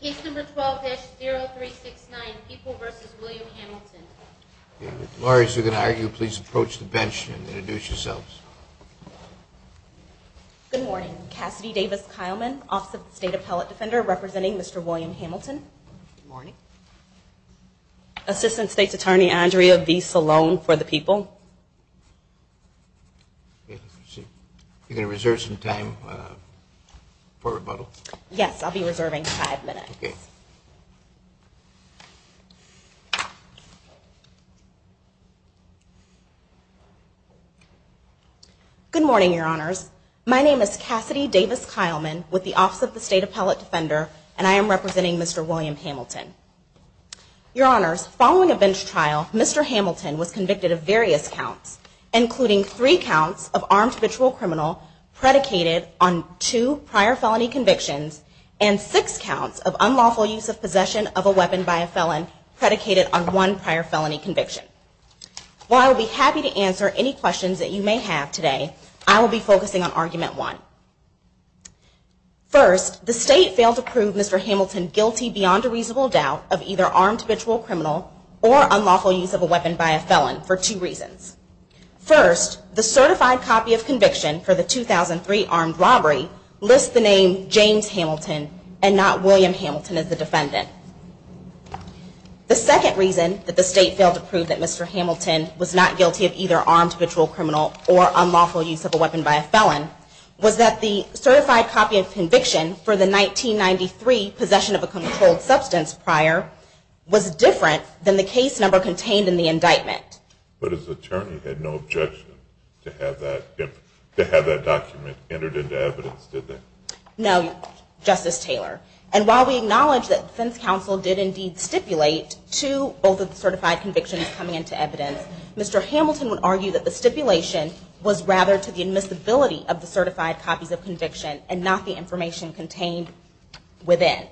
Case number 12-0369, People v. William Hamilton. Lawyers, if you're going to argue, please approach the bench and introduce yourselves. Good morning. Cassidy Davis-Kileman, Office of the State Appellate Defender, representing Mr. William Hamilton. Morning. Assistant State's Attorney, Andrea V. Salone, for the People. You're going to reserve some time for rebuttal? Yes, I'll be reserving. Five minutes. OK. Good morning, Your Honors. My name is Cassidy Davis-Kileman, with the Office of the State Appellate Defender, and I am representing Mr. William Hamilton. Your Honors, following a bench trial, Mr. Hamilton was convicted of various counts, including three counts of armed habitual criminal predicated on two prior felony convictions and six counts of unlawful use of possession of a weapon by a felon predicated on one prior felony conviction. While I'll be happy to answer any questions that you may have today, I will be focusing on argument one. First, the state failed to prove Mr. Hamilton guilty beyond a reasonable doubt of either armed habitual criminal or unlawful use of a weapon by a felon for two reasons. First, the certified copy of conviction for the 2003 armed robbery lists the name James Hamilton and not William Hamilton as the defendant. The second reason that the state failed to prove that Mr. Hamilton was not guilty of either armed habitual criminal or unlawful use of a weapon by a felon was that the certified copy of conviction for the 1993 possession of a controlled substance prior was different than the case number contained in the indictment. But his attorney had no objection to have that document entered into evidence, did they? No, Justice Taylor. And while we acknowledge that defense counsel did indeed stipulate to both of the certified convictions coming into evidence, Mr. Hamilton would argue that the stipulation was rather to the admissibility of the certified copies of conviction and not the information contained within.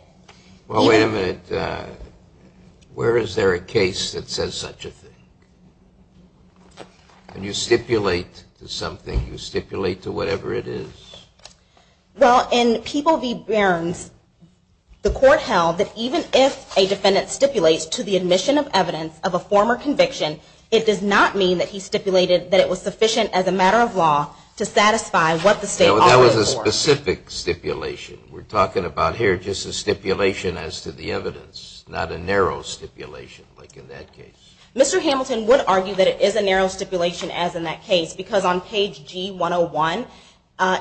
Well, wait a minute. Where is there a case that says such a thing? When you stipulate to something, you stipulate to whatever it is. Well, in People v. Behrens, the court held that even if a defendant stipulates to the admission of evidence of a former conviction, it does not mean that he stipulated that it was sufficient as a matter of law to satisfy what the state ordered for. That was a specific stipulation. We're talking about here just a stipulation as to the evidence, not a narrow stipulation like in that case. Mr. Hamilton would argue that it is a narrow stipulation as in that case, because on page G101,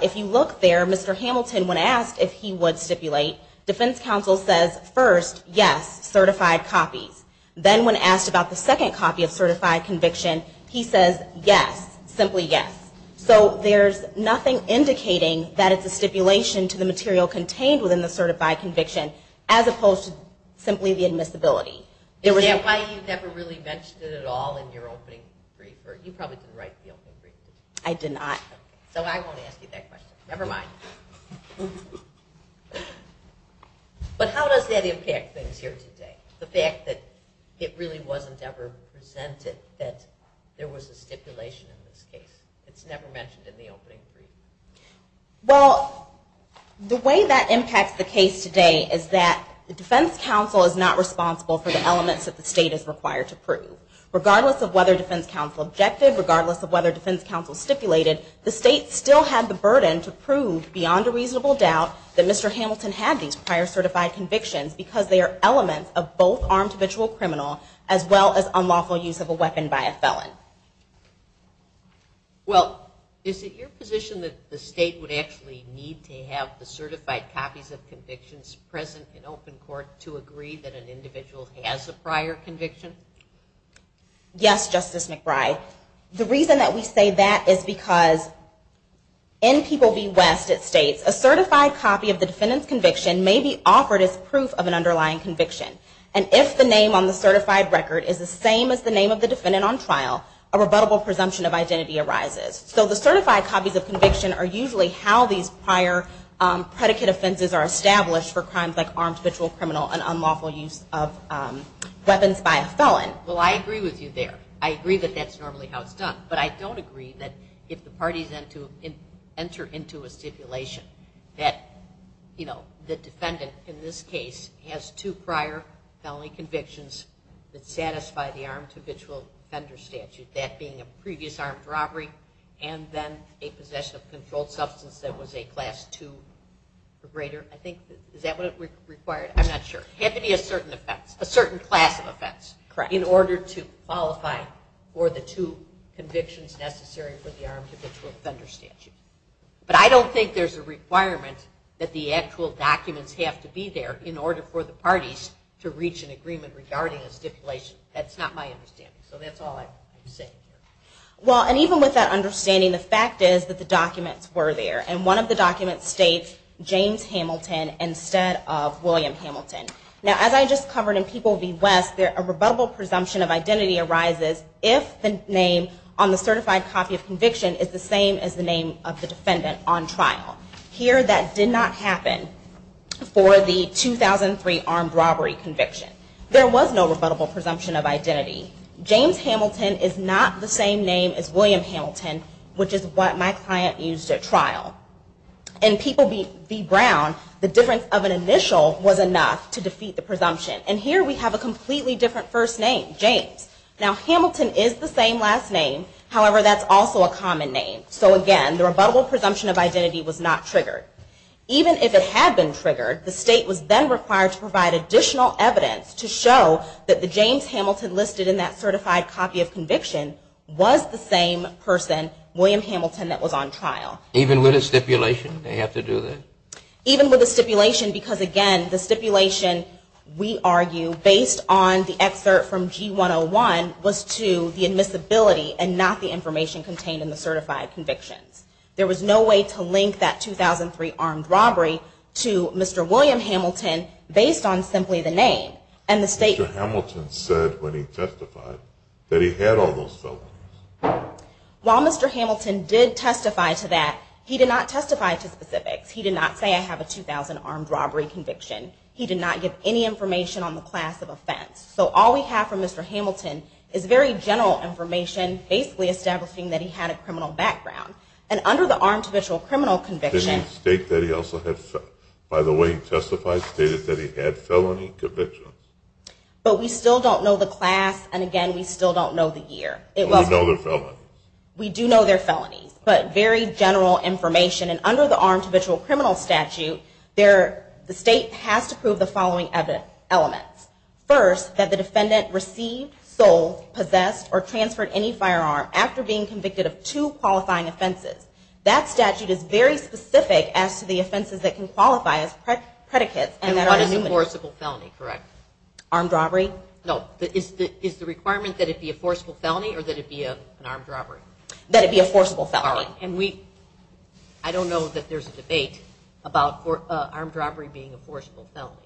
if you look there, Mr. Hamilton, when asked if he would stipulate, defense counsel says, first, yes, certified copies. Then when asked about the second copy of certified conviction, he says, yes, simply yes. So there's nothing indicating that it's a stipulation to the material contained within the certified conviction as opposed to simply the admissibility. Is that why you never really mentioned it at all in your opening brief? Or you probably didn't write the opening brief, did you? I did not. So I won't ask you that question. Never mind. But how does that impact things here today, the fact that it really wasn't ever presented that there was a stipulation in this case? It's never mentioned in the opening brief. Well, the way that impacts the case today is that the defense counsel is not responsible for the elements that the state is required to prove. Regardless of whether defense counsel objected, regardless of whether defense counsel stipulated, the state still had the burden to prove, beyond a reasonable doubt, that Mr. Hamilton had these prior certified convictions, because they are elements of both armed habitual criminal as well as unlawful use of a weapon by a felon. need to have the certified copies of convictions present in open court to agree that an individual has a prior conviction? Yes, Justice McBride. The reason that we say that is because in People v. West, it states, a certified copy of the defendant's conviction may be offered as proof of an underlying conviction. And if the name on the certified record is the same as the name of the defendant on trial, a rebuttable presumption of identity arises. So the certified copies of conviction are usually how these prior predicate offenses are established for crimes like armed habitual criminal and unlawful use of weapons by a felon. Well, I agree with you there. I agree that that's normally how it's done. But I don't agree that if the parties enter into a stipulation that the defendant, in this case, has two prior felony convictions that satisfy the armed habitual offender statute, that being a previous armed robbery and then a possession of controlled substance that was a class two or greater. I think, is that what it required? I'm not sure. It had to be a certain offense, a certain class of offense, in order to qualify for the two convictions necessary for the armed habitual offender statute. But I don't think there's a requirement that the actual documents have to be there in order for the parties to reach an agreement regarding a stipulation. That's not my understanding. So that's all I can say. Well, and even with that understanding, the fact is that the documents were there. And one of the documents states James Hamilton instead of William Hamilton. Now, as I just covered in People v. West, a rebuttable presumption of identity arises if the name on the certified copy of conviction is the same as the name of the defendant on trial. Here, that did not happen for the 2003 armed robbery conviction. There was no rebuttable presumption of identity. James Hamilton is not the same name as William Hamilton, which is what my client used at trial. In People v. Brown, the difference of an initial was enough to defeat the presumption. And here, we have a completely different first name, James. Now, Hamilton is the same last name. However, that's also a common name. So again, the rebuttable presumption of identity was not triggered. Even if it had been triggered, the state was then required to provide additional evidence to show that the James Hamilton listed in that certified copy of conviction was the same person, William Hamilton, that was on trial. Even with a stipulation, they have to do that? Even with a stipulation, because again, the stipulation, we argue, based on the excerpt from G101, was to the admissibility and not the information contained in the certified convictions. There was no way to link that 2003 armed robbery to Mr. William Hamilton based on simply the name. And the state. Mr. Hamilton said when he testified that he had all those felonies. While Mr. Hamilton did testify to that, he did not testify to specifics. He did not say I have a 2000 armed robbery conviction. He did not give any information on the class of offense. So all we have from Mr. Hamilton is very general information, basically establishing that he had a criminal background. And under the armed official criminal conviction. Did he state that he also had felonies? By the way he testified, he stated that he had felony convictions. But we still don't know the class. And again, we still don't know the year. We do know they're felonies. But very general information. And under the armed official criminal statute, the state has to prove the following elements. First, that the defendant received, sold, possessed, or transferred any firearm after being convicted of two qualifying offenses. That statute is very specific as to the offenses that can qualify as predicates. And that is an enforceable felony, correct? Armed robbery? No. Is the requirement that it be a forcible felony or that it be an armed robbery? That it be a forcible felony. I don't know that there's a debate about armed robbery being a forcible felony.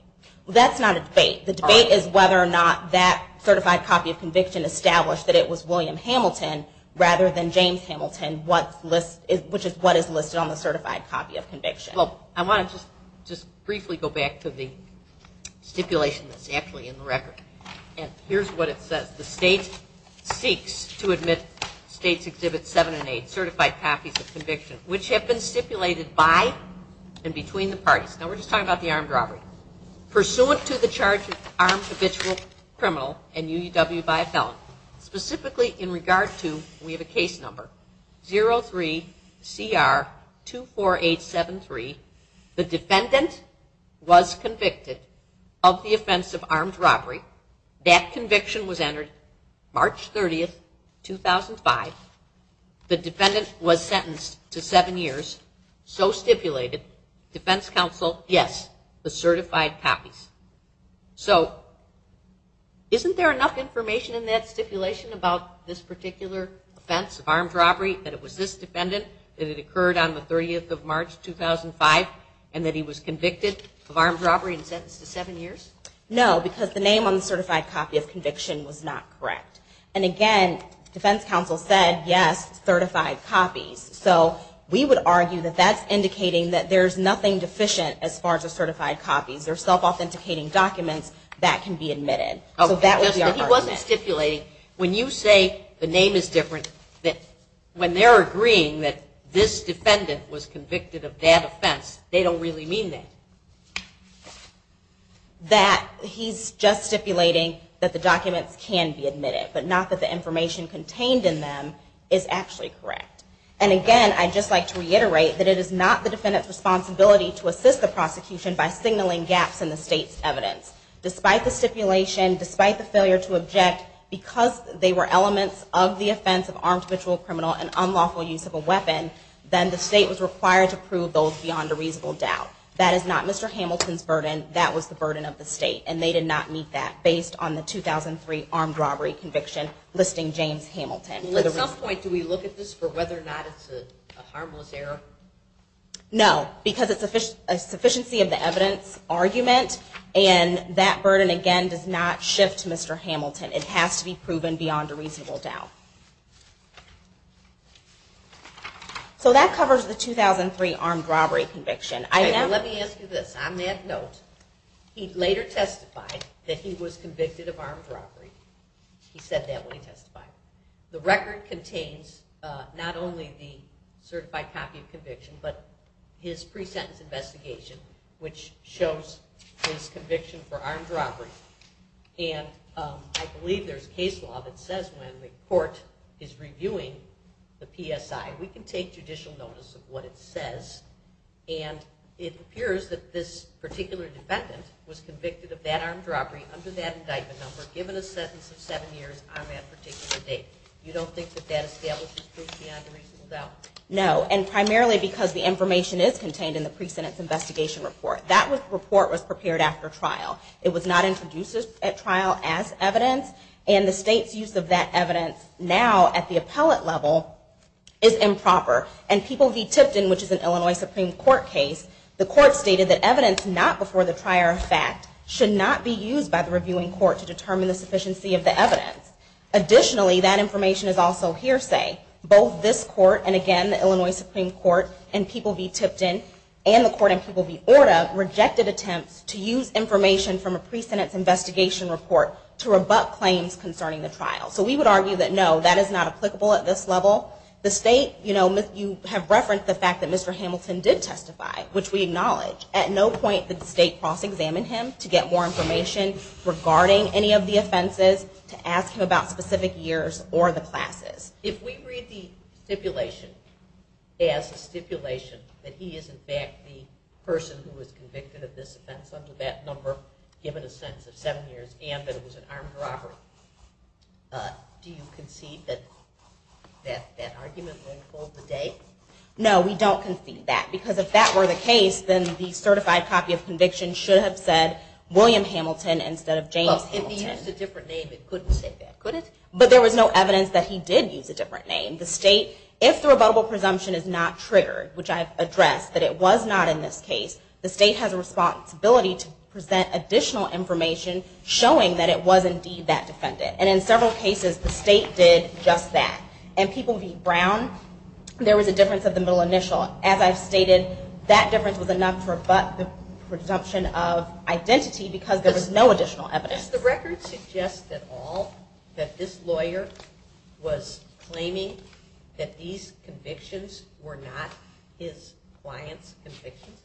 That's not a debate. The debate is whether or not that certified copy of conviction established that it was William Hamilton rather than James Hamilton, which is what is listed on the certified copy of conviction. Well, I want to just briefly go back to the stipulation that's actually in the record. And here's what it says. The state seeks to admit states exhibit seven and eight certified copies of conviction, which have been stipulated by and between the parties. Now, we're just talking about the armed robbery. Pursuant to the charge of armed official criminal and UW by a felon, specifically in regard to, we have a case number, 03CR24873. The defendant was convicted of the offense of armed robbery. That conviction was entered March 30, 2005. The defendant was sentenced to seven years. So stipulated, defense counsel, yes, the certified copies. So isn't there enough information in that stipulation about this particular offense of armed robbery, that it was this defendant, that it occurred on the 30th of March, 2005, and that he was convicted of armed robbery and sentenced to seven years? No, because the name on the certified copy of conviction was not correct. And again, defense counsel said, yes, certified copies. So we would argue that that's indicating that there's nothing deficient as far as the certified copies. They're self-authenticating documents that can be admitted. So that would be our argument. But he wasn't stipulating, when you say the name is different, that when they're agreeing that this defendant was convicted of that offense, they don't really mean that. That he's just stipulating that the documents can be admitted, but not that the information contained in them is actually correct. And again, I'd just like to reiterate that it is not the defendant's responsibility to assist the prosecution by signaling gaps in the state's evidence. Despite the stipulation, despite the failure to object, because they were elements of the offense of armed habitual criminal and unlawful use of a weapon, then the state was required to prove those beyond a reasonable doubt. That is not Mr. Hamilton's burden. That was the burden of the state. And they did not meet that, based on the 2003 armed robbery conviction, listing James Hamilton. At some point, do we look at this for whether or not it's a harmless error? No, because it's a sufficiency of the evidence argument. And that burden, again, does not shift to Mr. Hamilton. It has to be proven beyond a reasonable doubt. So that covers the 2003 armed robbery conviction. Let me ask you this. On that note, he later testified that he was convicted of armed robbery. He said that when he testified. The record contains not only the certified copy of conviction, but his pre-sentence investigation, which shows his conviction for armed robbery. And I believe there's case law that says when the court is reviewing the PSI, we can take judicial notice of what it says. And it appears that this particular defendant was convicted of that armed robbery under that indictment number, given a sentence of seven years on that particular date. You don't think that that establishes proof beyond a reasonable doubt? No, and primarily because the information is contained in the pre-sentence investigation report. That report was prepared after trial. It was not introduced at trial as evidence. And the state's use of that evidence now at the appellate level is improper. And People v. Tipton, which is an Illinois Supreme Court case, the court stated that evidence not before the trier of fact should not be used by the reviewing court to determine the sufficiency of the evidence. Additionally, that information is also hearsay. Both this court, and again, the Illinois Supreme Court, and People v. Tipton, and the court in People v. Orda, rejected attempts to use information from a pre-sentence investigation report to rebut claims concerning the trial. So we would argue that no, that is not applicable at this level. The state, you have referenced the fact that Mr. Hamilton did testify, which we acknowledge. At no point did the state cross-examine him to get more information regarding any of the offenses, to ask him about specific years or the classes. If we read the stipulation as a stipulation that he is, in fact, the person who was convicted of this offense under that number, given a sentence of seven years, and that it was an armed robbery, do you concede that that argument won't hold the date? No, we don't concede that. Because if that were the case, then the certified copy of conviction should have said William Hamilton instead of James Hamilton. Well, if he used a different name, it couldn't say that, could it? But there was no evidence that he did use a different name. The state, if the rebuttable presumption is not triggered, which I've addressed, that it was not in this case, the state has a responsibility to present additional information showing that it was indeed that defendant. And in several cases, the state did just that. In People v. Brown, there was a difference of the middle initial. As I've stated, that difference was enough to rebut the presumption of identity because there was no additional evidence. Does the record suggest at all that this lawyer was claiming that these convictions were not his client's convictions?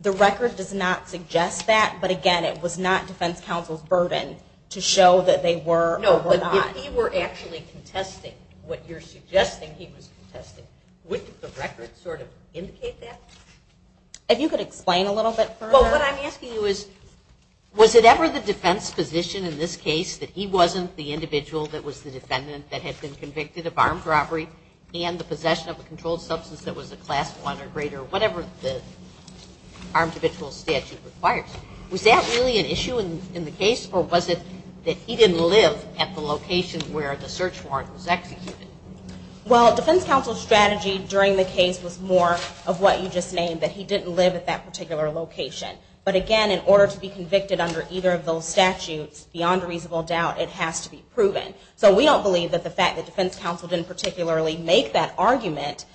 The record does not suggest that. But again, it was not defense counsel's burden to show that they were or were not. No, but if he were actually contesting what you're suggesting he was contesting, wouldn't the record sort of indicate that? If you could explain a little bit further. Well, what I'm asking you is, was it ever the defense position in this case that he wasn't the individual that was the defendant that had been convicted of armed robbery and the possession of a controlled substance that was a class one or greater, whatever the armed individual statute requires? Was that really an issue in the case, or was it that he didn't live at the location where the search warrant was executed? Well, defense counsel's strategy during the case was more of what you just named, that he didn't live at that particular location. But again, in order to be convicted under either of those statutes, beyond a reasonable doubt, it has to be proven. So we don't believe that the fact that defense counsel didn't particularly make that argument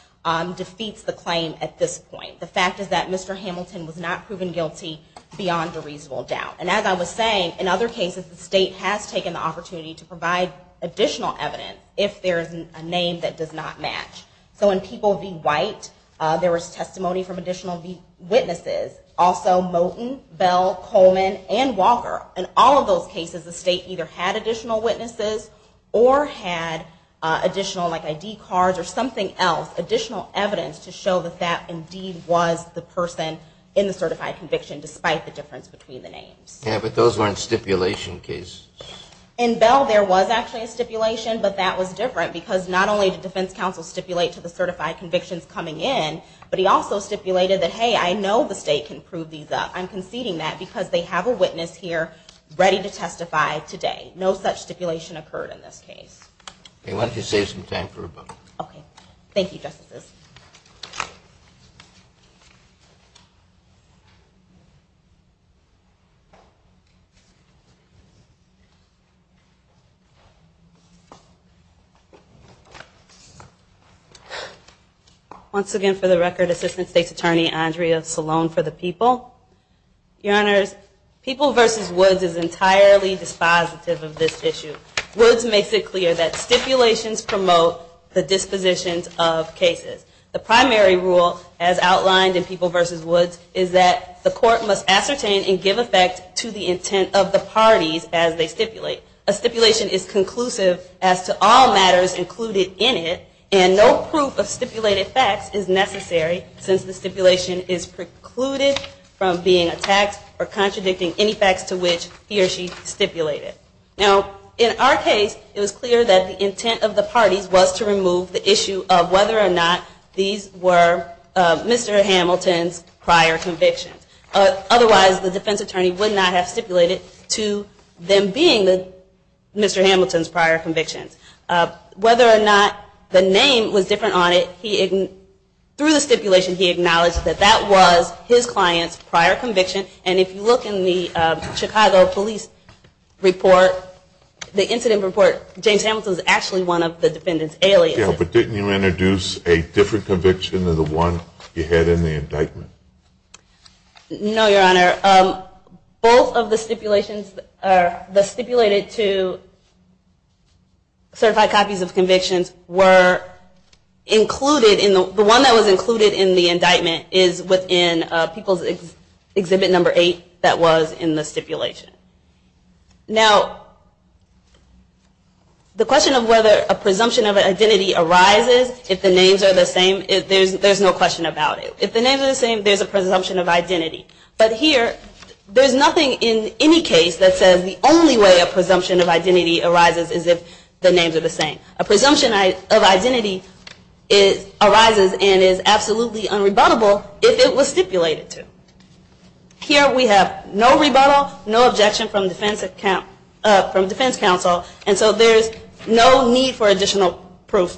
defeats the claim at this point. The fact is that Mr. Hamilton was not proven guilty beyond a reasonable doubt. And as I was saying, in other cases, the state has taken the opportunity to provide additional evidence if there is a name that does not match. So in people v. White, there was testimony from additional witnesses. Also Moten, Bell, Coleman, and Walker. In all of those cases, the state either had additional witnesses or had additional ID cards or something else, additional evidence to show that that indeed was the person in the certified conviction, despite the difference between the names. Yeah, but those weren't stipulation cases. In Bell, there was actually a stipulation, but that was different. Because not only did defense counsel stipulate to the certified convictions coming in, but he also stipulated that, hey, I know the state can prove these up. I'm conceding that because they have a witness here ready to testify today. No such stipulation occurred in this case. OK, why don't you save some time for rebuttal? OK. Thank you, Justices. Thank you, Justices. Once again, for the record, Assistant State's Attorney Andrea Salone for the People. Your Honors, People v. Woods is entirely dispositive of this issue. Woods makes it clear that stipulations promote the dispositions of cases. The primary rule, as outlined in People v. Woods, is that the court must ascertain and give effect to the intent of the parties as they stipulate. A stipulation is conclusive as to all matters included in it, and no proof of stipulated facts is necessary, since the stipulation is precluded from being attacked or contradicting any facts to which he or she stipulated. Now, in our case, it was clear that the intent of the parties was to remove the issue of whether or not these were Mr. Hamilton's prior convictions. Otherwise, the defense attorney would not have stipulated to them being Mr. Hamilton's prior convictions. Whether or not the name was different on it, through the stipulation, he acknowledged that that was his client's prior conviction. And if you look in the Chicago Police report, the incident report, James Hamilton was actually one of the defendant's aliases. Yeah, but didn't you introduce a different conviction than the one you had in the indictment? No, Your Honor. Both of the stipulations that stipulated to certified copies of convictions were included in the one that was included in the indictment is within People's Exhibit Number 8 that was in the stipulation. Now, the question of whether a presumption of identity arises if the names are the same, there's no question about it. If the names are the same, there's a presumption of identity. But here, there's nothing in any case that says the only way a presumption of identity arises is if the names are the same. A presumption of identity arises and is absolutely unrebuttable if it was stipulated to. Here, we have no rebuttal, no objection from defense counsel. And so there's no need for additional proof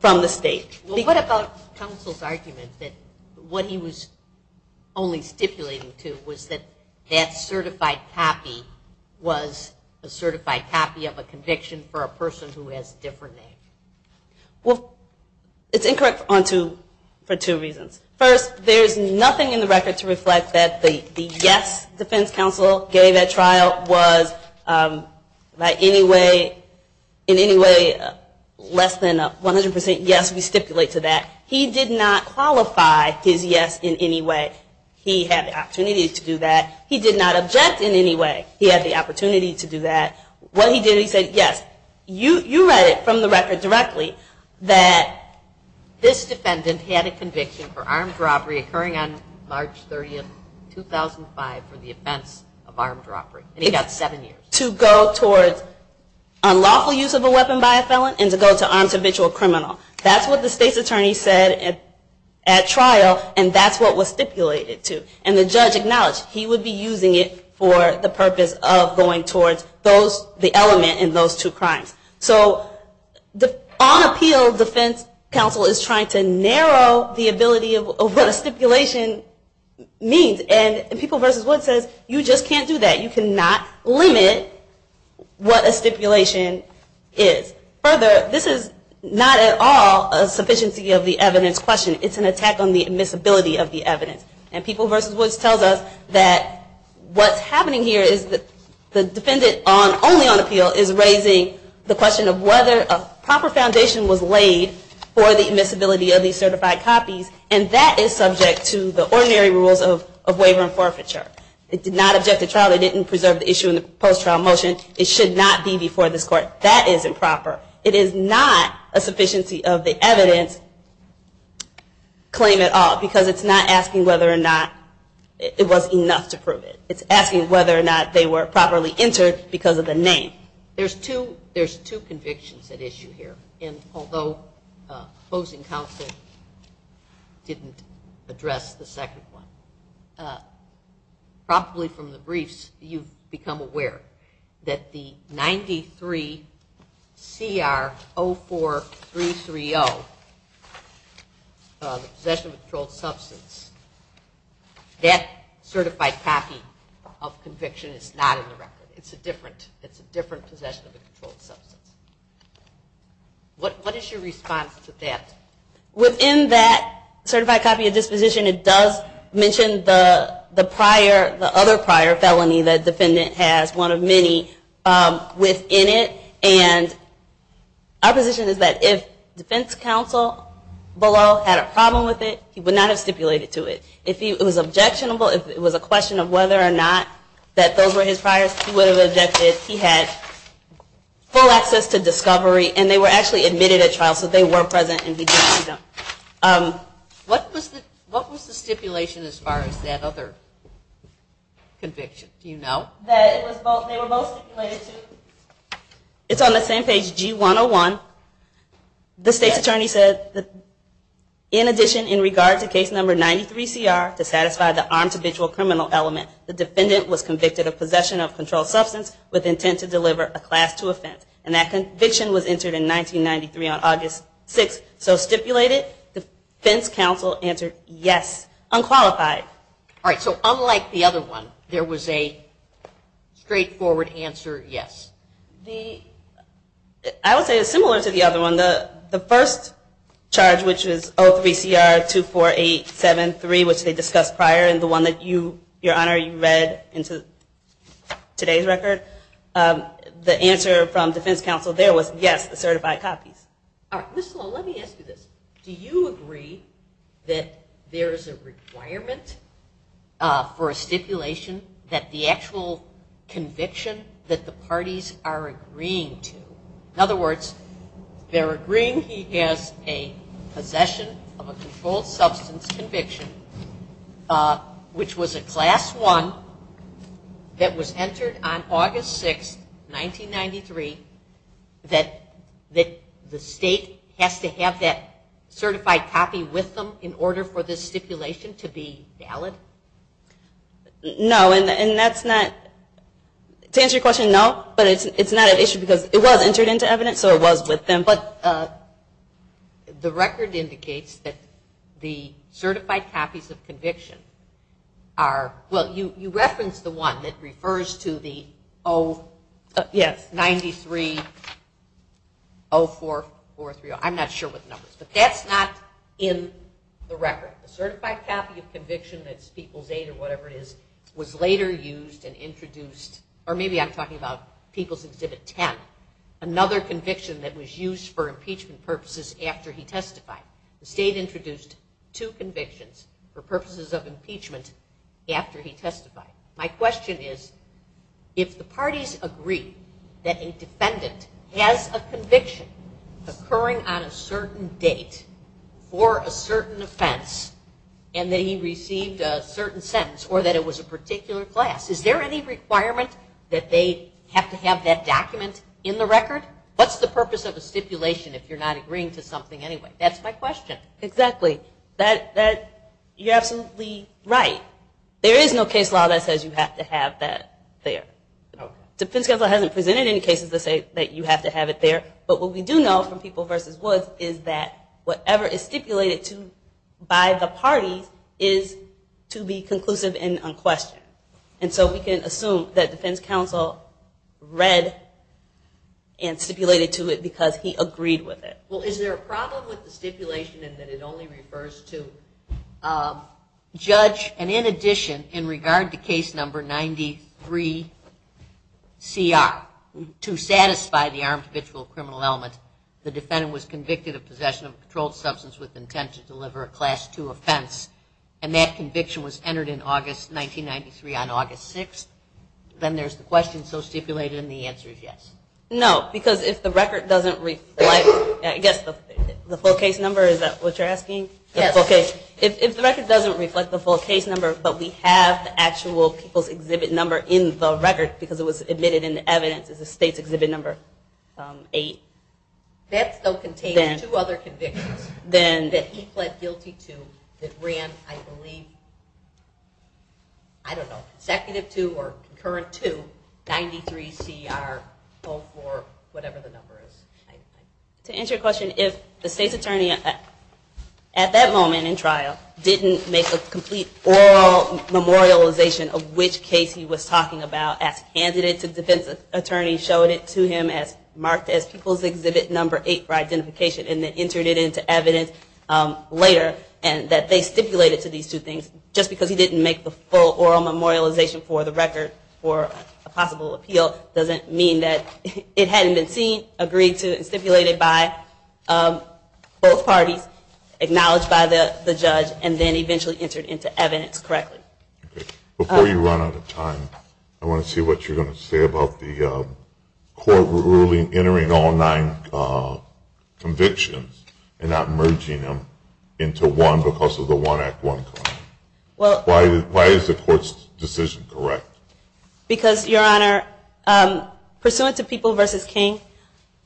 from the state. Well, what about counsel's argument that what he was only stipulating to was that that certified copy was a certified copy of a conviction for a person who has a different name? Well, it's incorrect for two reasons. First, there's nothing in the record to reflect that the yes defense counsel gave at trial was in any way less than a 100% yes, we stipulate to that. He did not qualify his yes in any way. He had the opportunity to do that. He did not object in any way. He had the opportunity to do that. What he did, he said, yes. You read it from the record directly that this defendant had a conviction for armed robbery occurring on March 30, 2005 for the offense of armed robbery. And he got seven years. To go towards unlawful use of a weapon by a felon and to go to an individual criminal. That's what the state's attorney said at trial, and that's what was stipulated to. And the judge acknowledged he would be using it for the purpose of going towards the element in those two crimes. So on appeal, defense counsel is trying to narrow the ability of what a stipulation means. And People v. Woods says, you just can't do that. You cannot limit what a stipulation is. Further, this is not at all a sufficiency of the evidence question. It's an attack on the admissibility of the evidence. And People v. Woods tells us that what's happening here is that the defendant only on appeal is raising the question of whether a proper foundation was laid for the admissibility of these certified copies. And that is subject to the ordinary rules of waiver and forfeiture. It did not object to trial. They didn't preserve the issue in the post-trial motion. It should not be before this court. That is improper. It is not a sufficiency of the evidence claim at all, because it's not asking whether or not it was enough to prove it. It's asking whether or not they were properly entered because of the name. There's two convictions at issue here. And although opposing counsel didn't address the second one, probably from the briefs, you've become aware that the 93 CR 04330, possession of a controlled substance, that certified copy of conviction is not in the record. It's a different possession of a controlled substance. What is your response to that? Within that certified copy of disposition, it does mention the other prior felony that defendant has, one of many, within it. And our position is that if defense counsel below had a problem with it, he would not have stipulated to it. If it was objectionable, if it was a question of whether or not that those were his priors, he would have objected. He had full access to discovery, and they were actually admitted at trial. So they were present, and he didn't see them. What was the stipulation as far as that other conviction? Do you know? That they were both stipulated to. It's on the same page, G101. The state's attorney said that, in addition, in regard to case number 93CR, to satisfy the armed habitual criminal element, the defendant was convicted of possession of controlled substance with intent to deliver a class 2 offense. And that conviction was entered in 1993 on August 6th. So stipulated, defense counsel answered yes, unqualified. All right, so unlike the other one, there was a straightforward answer, yes. I would say it's similar to the other one. The first charge, which is 03CR24873, which they discussed prior, and the one that, Your Honor, you read into today's record, the answer from defense counsel there was, yes, the certified copies. All right, Ms. Sloan, let me ask you this. Do you agree that there is a requirement for a stipulation that the actual conviction that the parties are agreeing to, in other words, they're agreeing he has a possession of a controlled substance conviction, which was a class 1 that was entered on August 6th, 1993, that the state has to have that certified copy with them in order for this stipulation to be valid? No, and that's not, to answer your question, no. But it's not an issue because it was entered into evidence, so it was with them. But the record indicates that the certified copies of conviction are, well, you referenced the one that refers to the 093-0443, I'm not sure what the number is. But that's not in the record. The certified copy of conviction, that's people's aid or whatever it is, was later used and introduced, or maybe I'm People's Exhibit 10, another conviction that was used for impeachment purposes after he testified. The state introduced two convictions for purposes of impeachment after he testified. My question is, if the parties agree that a defendant has a conviction occurring on a certain date for a certain offense and that he received a certain sentence or that it was a particular class, is there any requirement that they have to have that document in the record? What's the purpose of the stipulation if you're not agreeing to something anyway? That's my question. Exactly. You're absolutely right. There is no case law that says you have to have that there. Defense Counsel hasn't presented any cases to say that you have to have it there. But what we do know from People v. Woods is that whatever is stipulated by the parties is to be conclusive and unquestioned. And so we can assume that Defense Counsel read and stipulated to it because he agreed with it. Well, is there a problem with the stipulation in that it only refers to judge? And in addition, in regard to case number 93CR, to satisfy the armed habitual criminal element, the defendant was convicted of possession of a controlled substance with intent to deliver a class 2 offense. And that conviction was entered in August 1993 on August 6. Then there's the question so stipulated, and the answer is yes. No, because if the record doesn't reflect, I guess the full case number, is that what you're asking? Yes. If the record doesn't reflect the full case number, but we have the actual people's exhibit number in the record because it was admitted in evidence as a state's exhibit number, 8. That still contains two other convictions then that he pled guilty to that ran, I believe, I don't know, consecutive two or concurrent two, 93CR04, whatever the number is. To answer your question, if the state's attorney at that moment in trial didn't make a complete oral memorialization of which case he was talking about as candidate to defense attorney showed it to him as marked as people's exhibit number 8 for identification and then entered it into evidence later and that they stipulated to these two things, just because he didn't make the full oral memorialization for the record for a possible appeal doesn't mean that it hadn't been seen, agreed to, and stipulated by both parties, acknowledged by the judge, and then eventually entered into evidence correctly. Before you run out of time, I want to see what you're going to say about the court ruling entering all nine convictions. And not merging them into one because of the one act, one crime. Why is the court's decision correct? Because, Your Honor, pursuant to People v. King,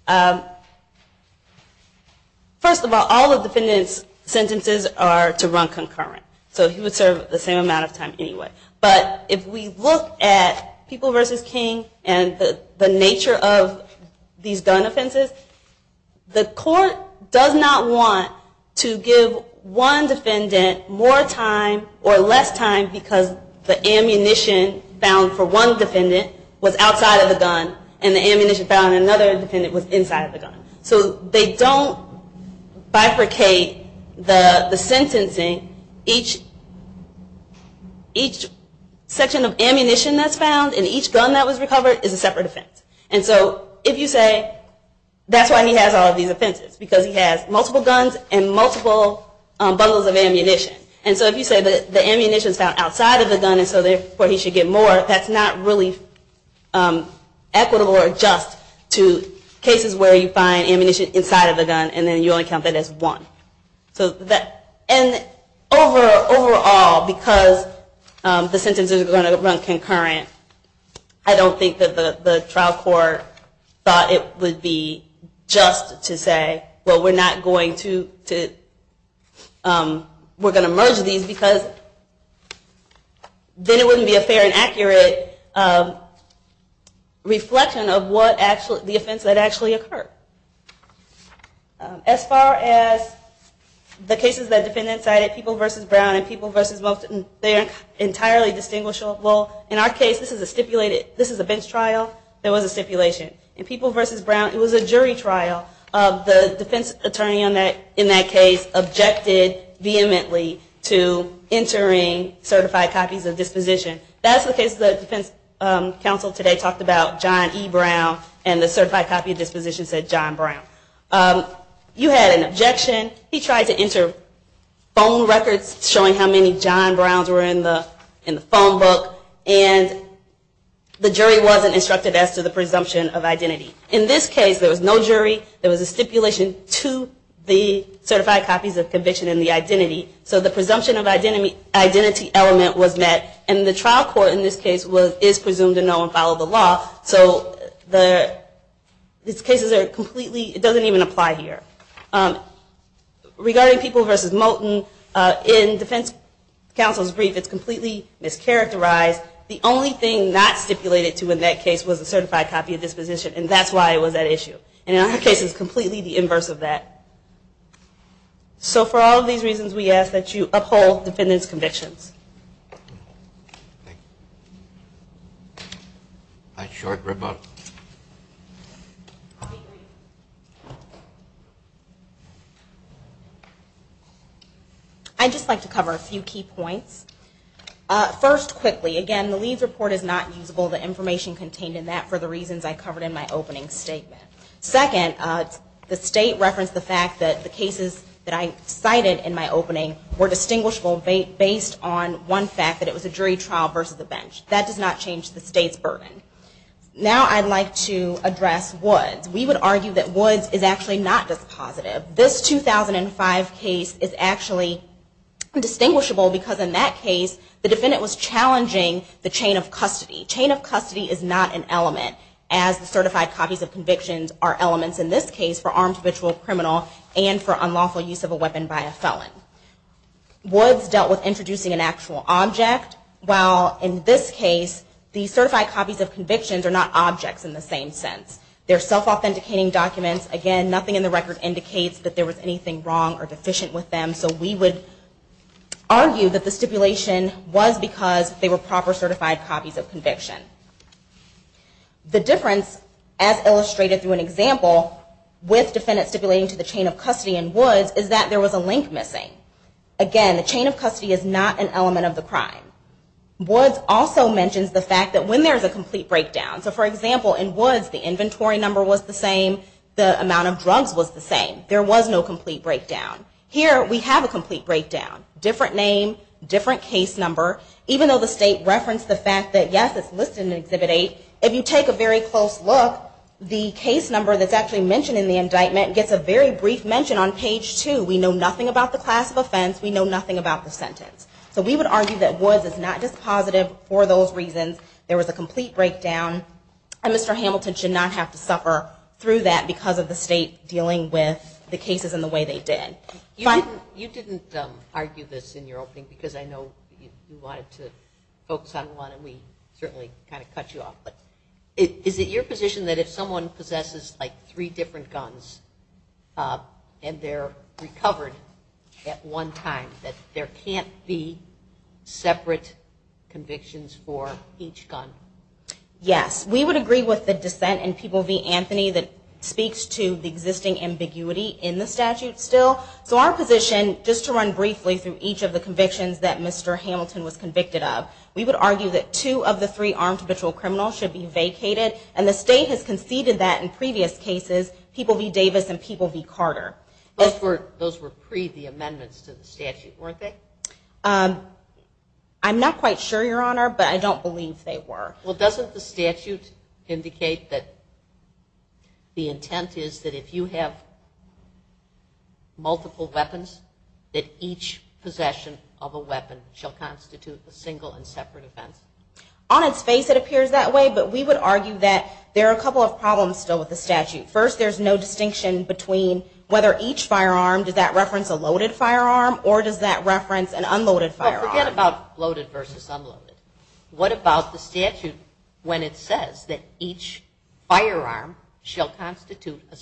first of all, all the defendant's sentences are to run concurrent. So he would serve the same amount of time anyway. But if we look at People v. King and the nature of these gun offenses, the court does not want to give one defendant more time or less time because the ammunition found for one defendant was outside of the gun and the ammunition found in another defendant was inside the gun. So they don't bifurcate the sentencing. Each section of ammunition that's found in each gun that was recovered is a separate offense. And so if you say that's why he has all of these offenses, because he has multiple guns and multiple bundles of ammunition. And so if you say that the ammunition is found outside of the gun and so therefore he should get more, that's not really equitable or just to cases where you find ammunition inside of the gun and then you only count that as one. And overall, because the sentences are going to run concurrent, I don't think that the trial court thought it would be just to say, well, we're going to merge these because then it wouldn't be a fair and accurate reflection of what the offense that actually occurred. As far as the cases that defendants cited, People v. Brown and People v. Moulton, they're entirely distinguishable. In our case, this is a bench trial. There was a stipulation. In People v. Brown, it was a jury trial. The defense attorney in that case objected vehemently to entering certified copies of disposition. That's the case the defense counsel today talked about, John E. Brown. And the certified copy of disposition said John Brown. You had an objection. He tried to enter phone records showing how many John Browns were in the phone book. And the jury wasn't instructed as to the presumption of identity. In this case, there was no jury. There was a stipulation to the certified copies of conviction and the identity. So the presumption of identity element was met. And the trial court in this case is presumed to know and follow the law. So these cases are completely, it doesn't even apply here. Regarding People v. Moulton, in defense counsel's brief, it's completely mischaracterized. The only thing not stipulated to in that case was a certified copy of disposition. And that's why it was at issue. And in our case, it's completely the inverse of that. So for all of these reasons, we ask that you uphold defendants' convictions. A short rebuttal. I'll be brief. I'd just like to cover a few key points. First, quickly, again, the Leeds report is not usable. The information contained in that for the reasons I covered in my opening statement. Second, the state referenced the fact that the cases that I cited in my opening were distinguishable based on one fact, that it was a jury trial versus a bench. That does not change the state's burden. Now I'd like to address Woods. We would argue that Woods is actually not dispositive. This 2005 case is actually distinguishable because in that case, the defendant was challenging the chain of custody. Chain of custody is not an element, as the certified copies of convictions are elements in this case for armed habitual criminal and for unlawful use of a weapon by a felon. Woods dealt with introducing an actual object, while in this case, the certified copies of convictions are not objects in the same sense. They're self-authenticating documents. Again, nothing in the record indicates that there was anything wrong or deficient with them. So we would argue that the stipulation was because they were proper certified copies of conviction. The difference, as illustrated through an example, with defendants stipulating to the chain of custody in Woods is that there was a link missing. Again, the chain of custody is not an element of the crime. Woods also mentions the fact that when there's a complete breakdown. So for example, in Woods, the inventory number was the same. The amount of drugs was the same. There was no complete breakdown. Here, we have a complete breakdown. Different name, different case number. Even though the state referenced the fact that, yes, it's listed in Exhibit 8, if you take a very close look, the case number that's actually mentioned in the indictment gets a very brief mention on page 2. We know nothing about the class of offense. We know nothing about the sentence. So we would argue that Woods is not dispositive for those reasons. There was a complete breakdown. And Mr. Hamilton should not have to suffer through that because of the state dealing with the cases in the way they did. You didn't argue this in your opening, because I know you wanted to focus on one. And we certainly kind of cut you off. But is it your position that if someone possesses three different guns, and they're recovered at one time, that there can't be separate convictions for each gun? Yes, we would agree with the dissent in People v. Anthony that speaks to the existing ambiguity in the statute still. So our position, just to run briefly through each of the convictions that Mr. Hamilton was convicted of, we would argue that two of the three armed patrol criminals should be vacated. And the state has conceded that in previous cases, People v. Davis and People v. Carter. Those were pre the amendments to the statute, weren't they? I'm not quite sure, Your Honor, but I don't believe they were. Well, doesn't the statute indicate that the intent is that if you have multiple weapons, that each possession of a weapon shall constitute a single and separate offense? On its face, it appears that way. But we would argue that there are a couple of problems still with the statute. First, there's no distinction between whether each firearm, does that reference a loaded firearm, or does that reference an unloaded firearm? Well, forget about loaded versus unloaded. What about the statute when it says that each firearm shall constitute a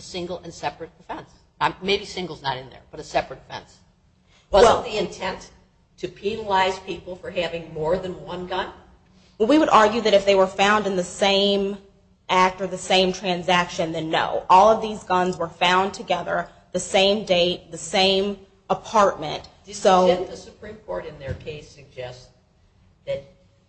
single and separate offense? Maybe single's not in there, but a separate offense. Wasn't the intent to penalize people for having more than one gun? We would argue that if they were found in the same act or the same transaction, then no. All of these guns were found together, the same date, the same apartment. The Supreme Court in their case suggests that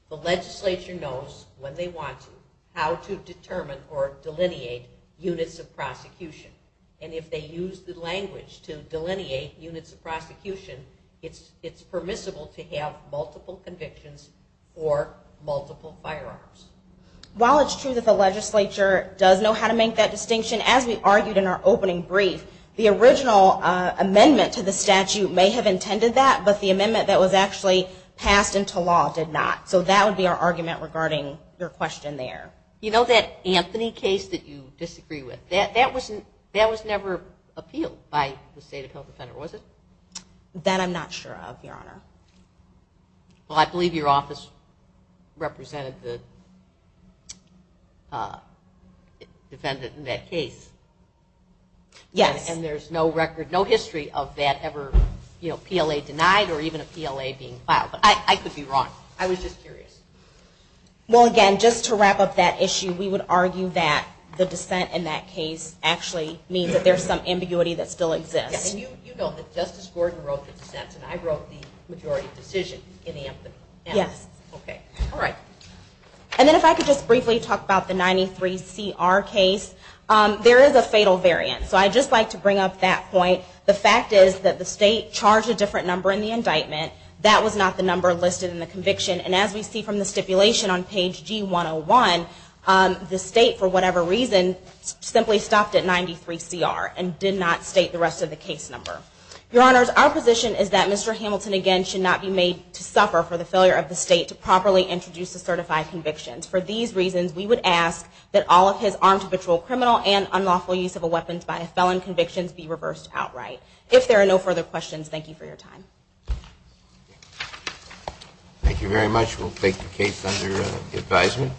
the legislature knows, when they want to, how to determine or delineate units of prosecution. And if they use the language to delineate units of prosecution, it's permissible to have multiple convictions for multiple firearms. While it's true that the legislature does know how to make that distinction, as we argued in our opening brief, the original amendment to the statute may have intended that, but the amendment that was actually passed into law did not. So that would be our argument regarding your question there. You know that Anthony case that you disagree with? That was never appealed by the state of health defender, was it? That I'm not sure of, Your Honor. Well, I believe your office represented the defendant in that case. Yes. And there's no record, no history, of that ever PLA denied or even a PLA being filed. But I could be wrong. I was just curious. Well, again, just to wrap up that issue, we would argue that the dissent in that case actually means that there's some ambiguity that still exists. And you know that Justice Gordon wrote the dissents, and I wrote the majority decision in the amendment. Yes. OK. All right. And then if I could just briefly talk about the 93CR case. There is a fatal variant. So I'd just like to bring up that point. The fact is that the state charged a different number in the indictment. That was not the number listed in the conviction. And as we see from the stipulation on page G101, the state, for whatever reason, simply stopped at 93CR and did not state the rest of the case number. Your Honors, our position is that Mr. Hamilton, again, should not be made to suffer for the failure of the state to properly introduce the certified convictions. For these reasons, we would ask that all of his armed habitual criminal and unlawful use of a weapon by a felon convictions be reversed outright. If there are no further questions, thank you for your time. Thank you very much. We'll take the case under advisement.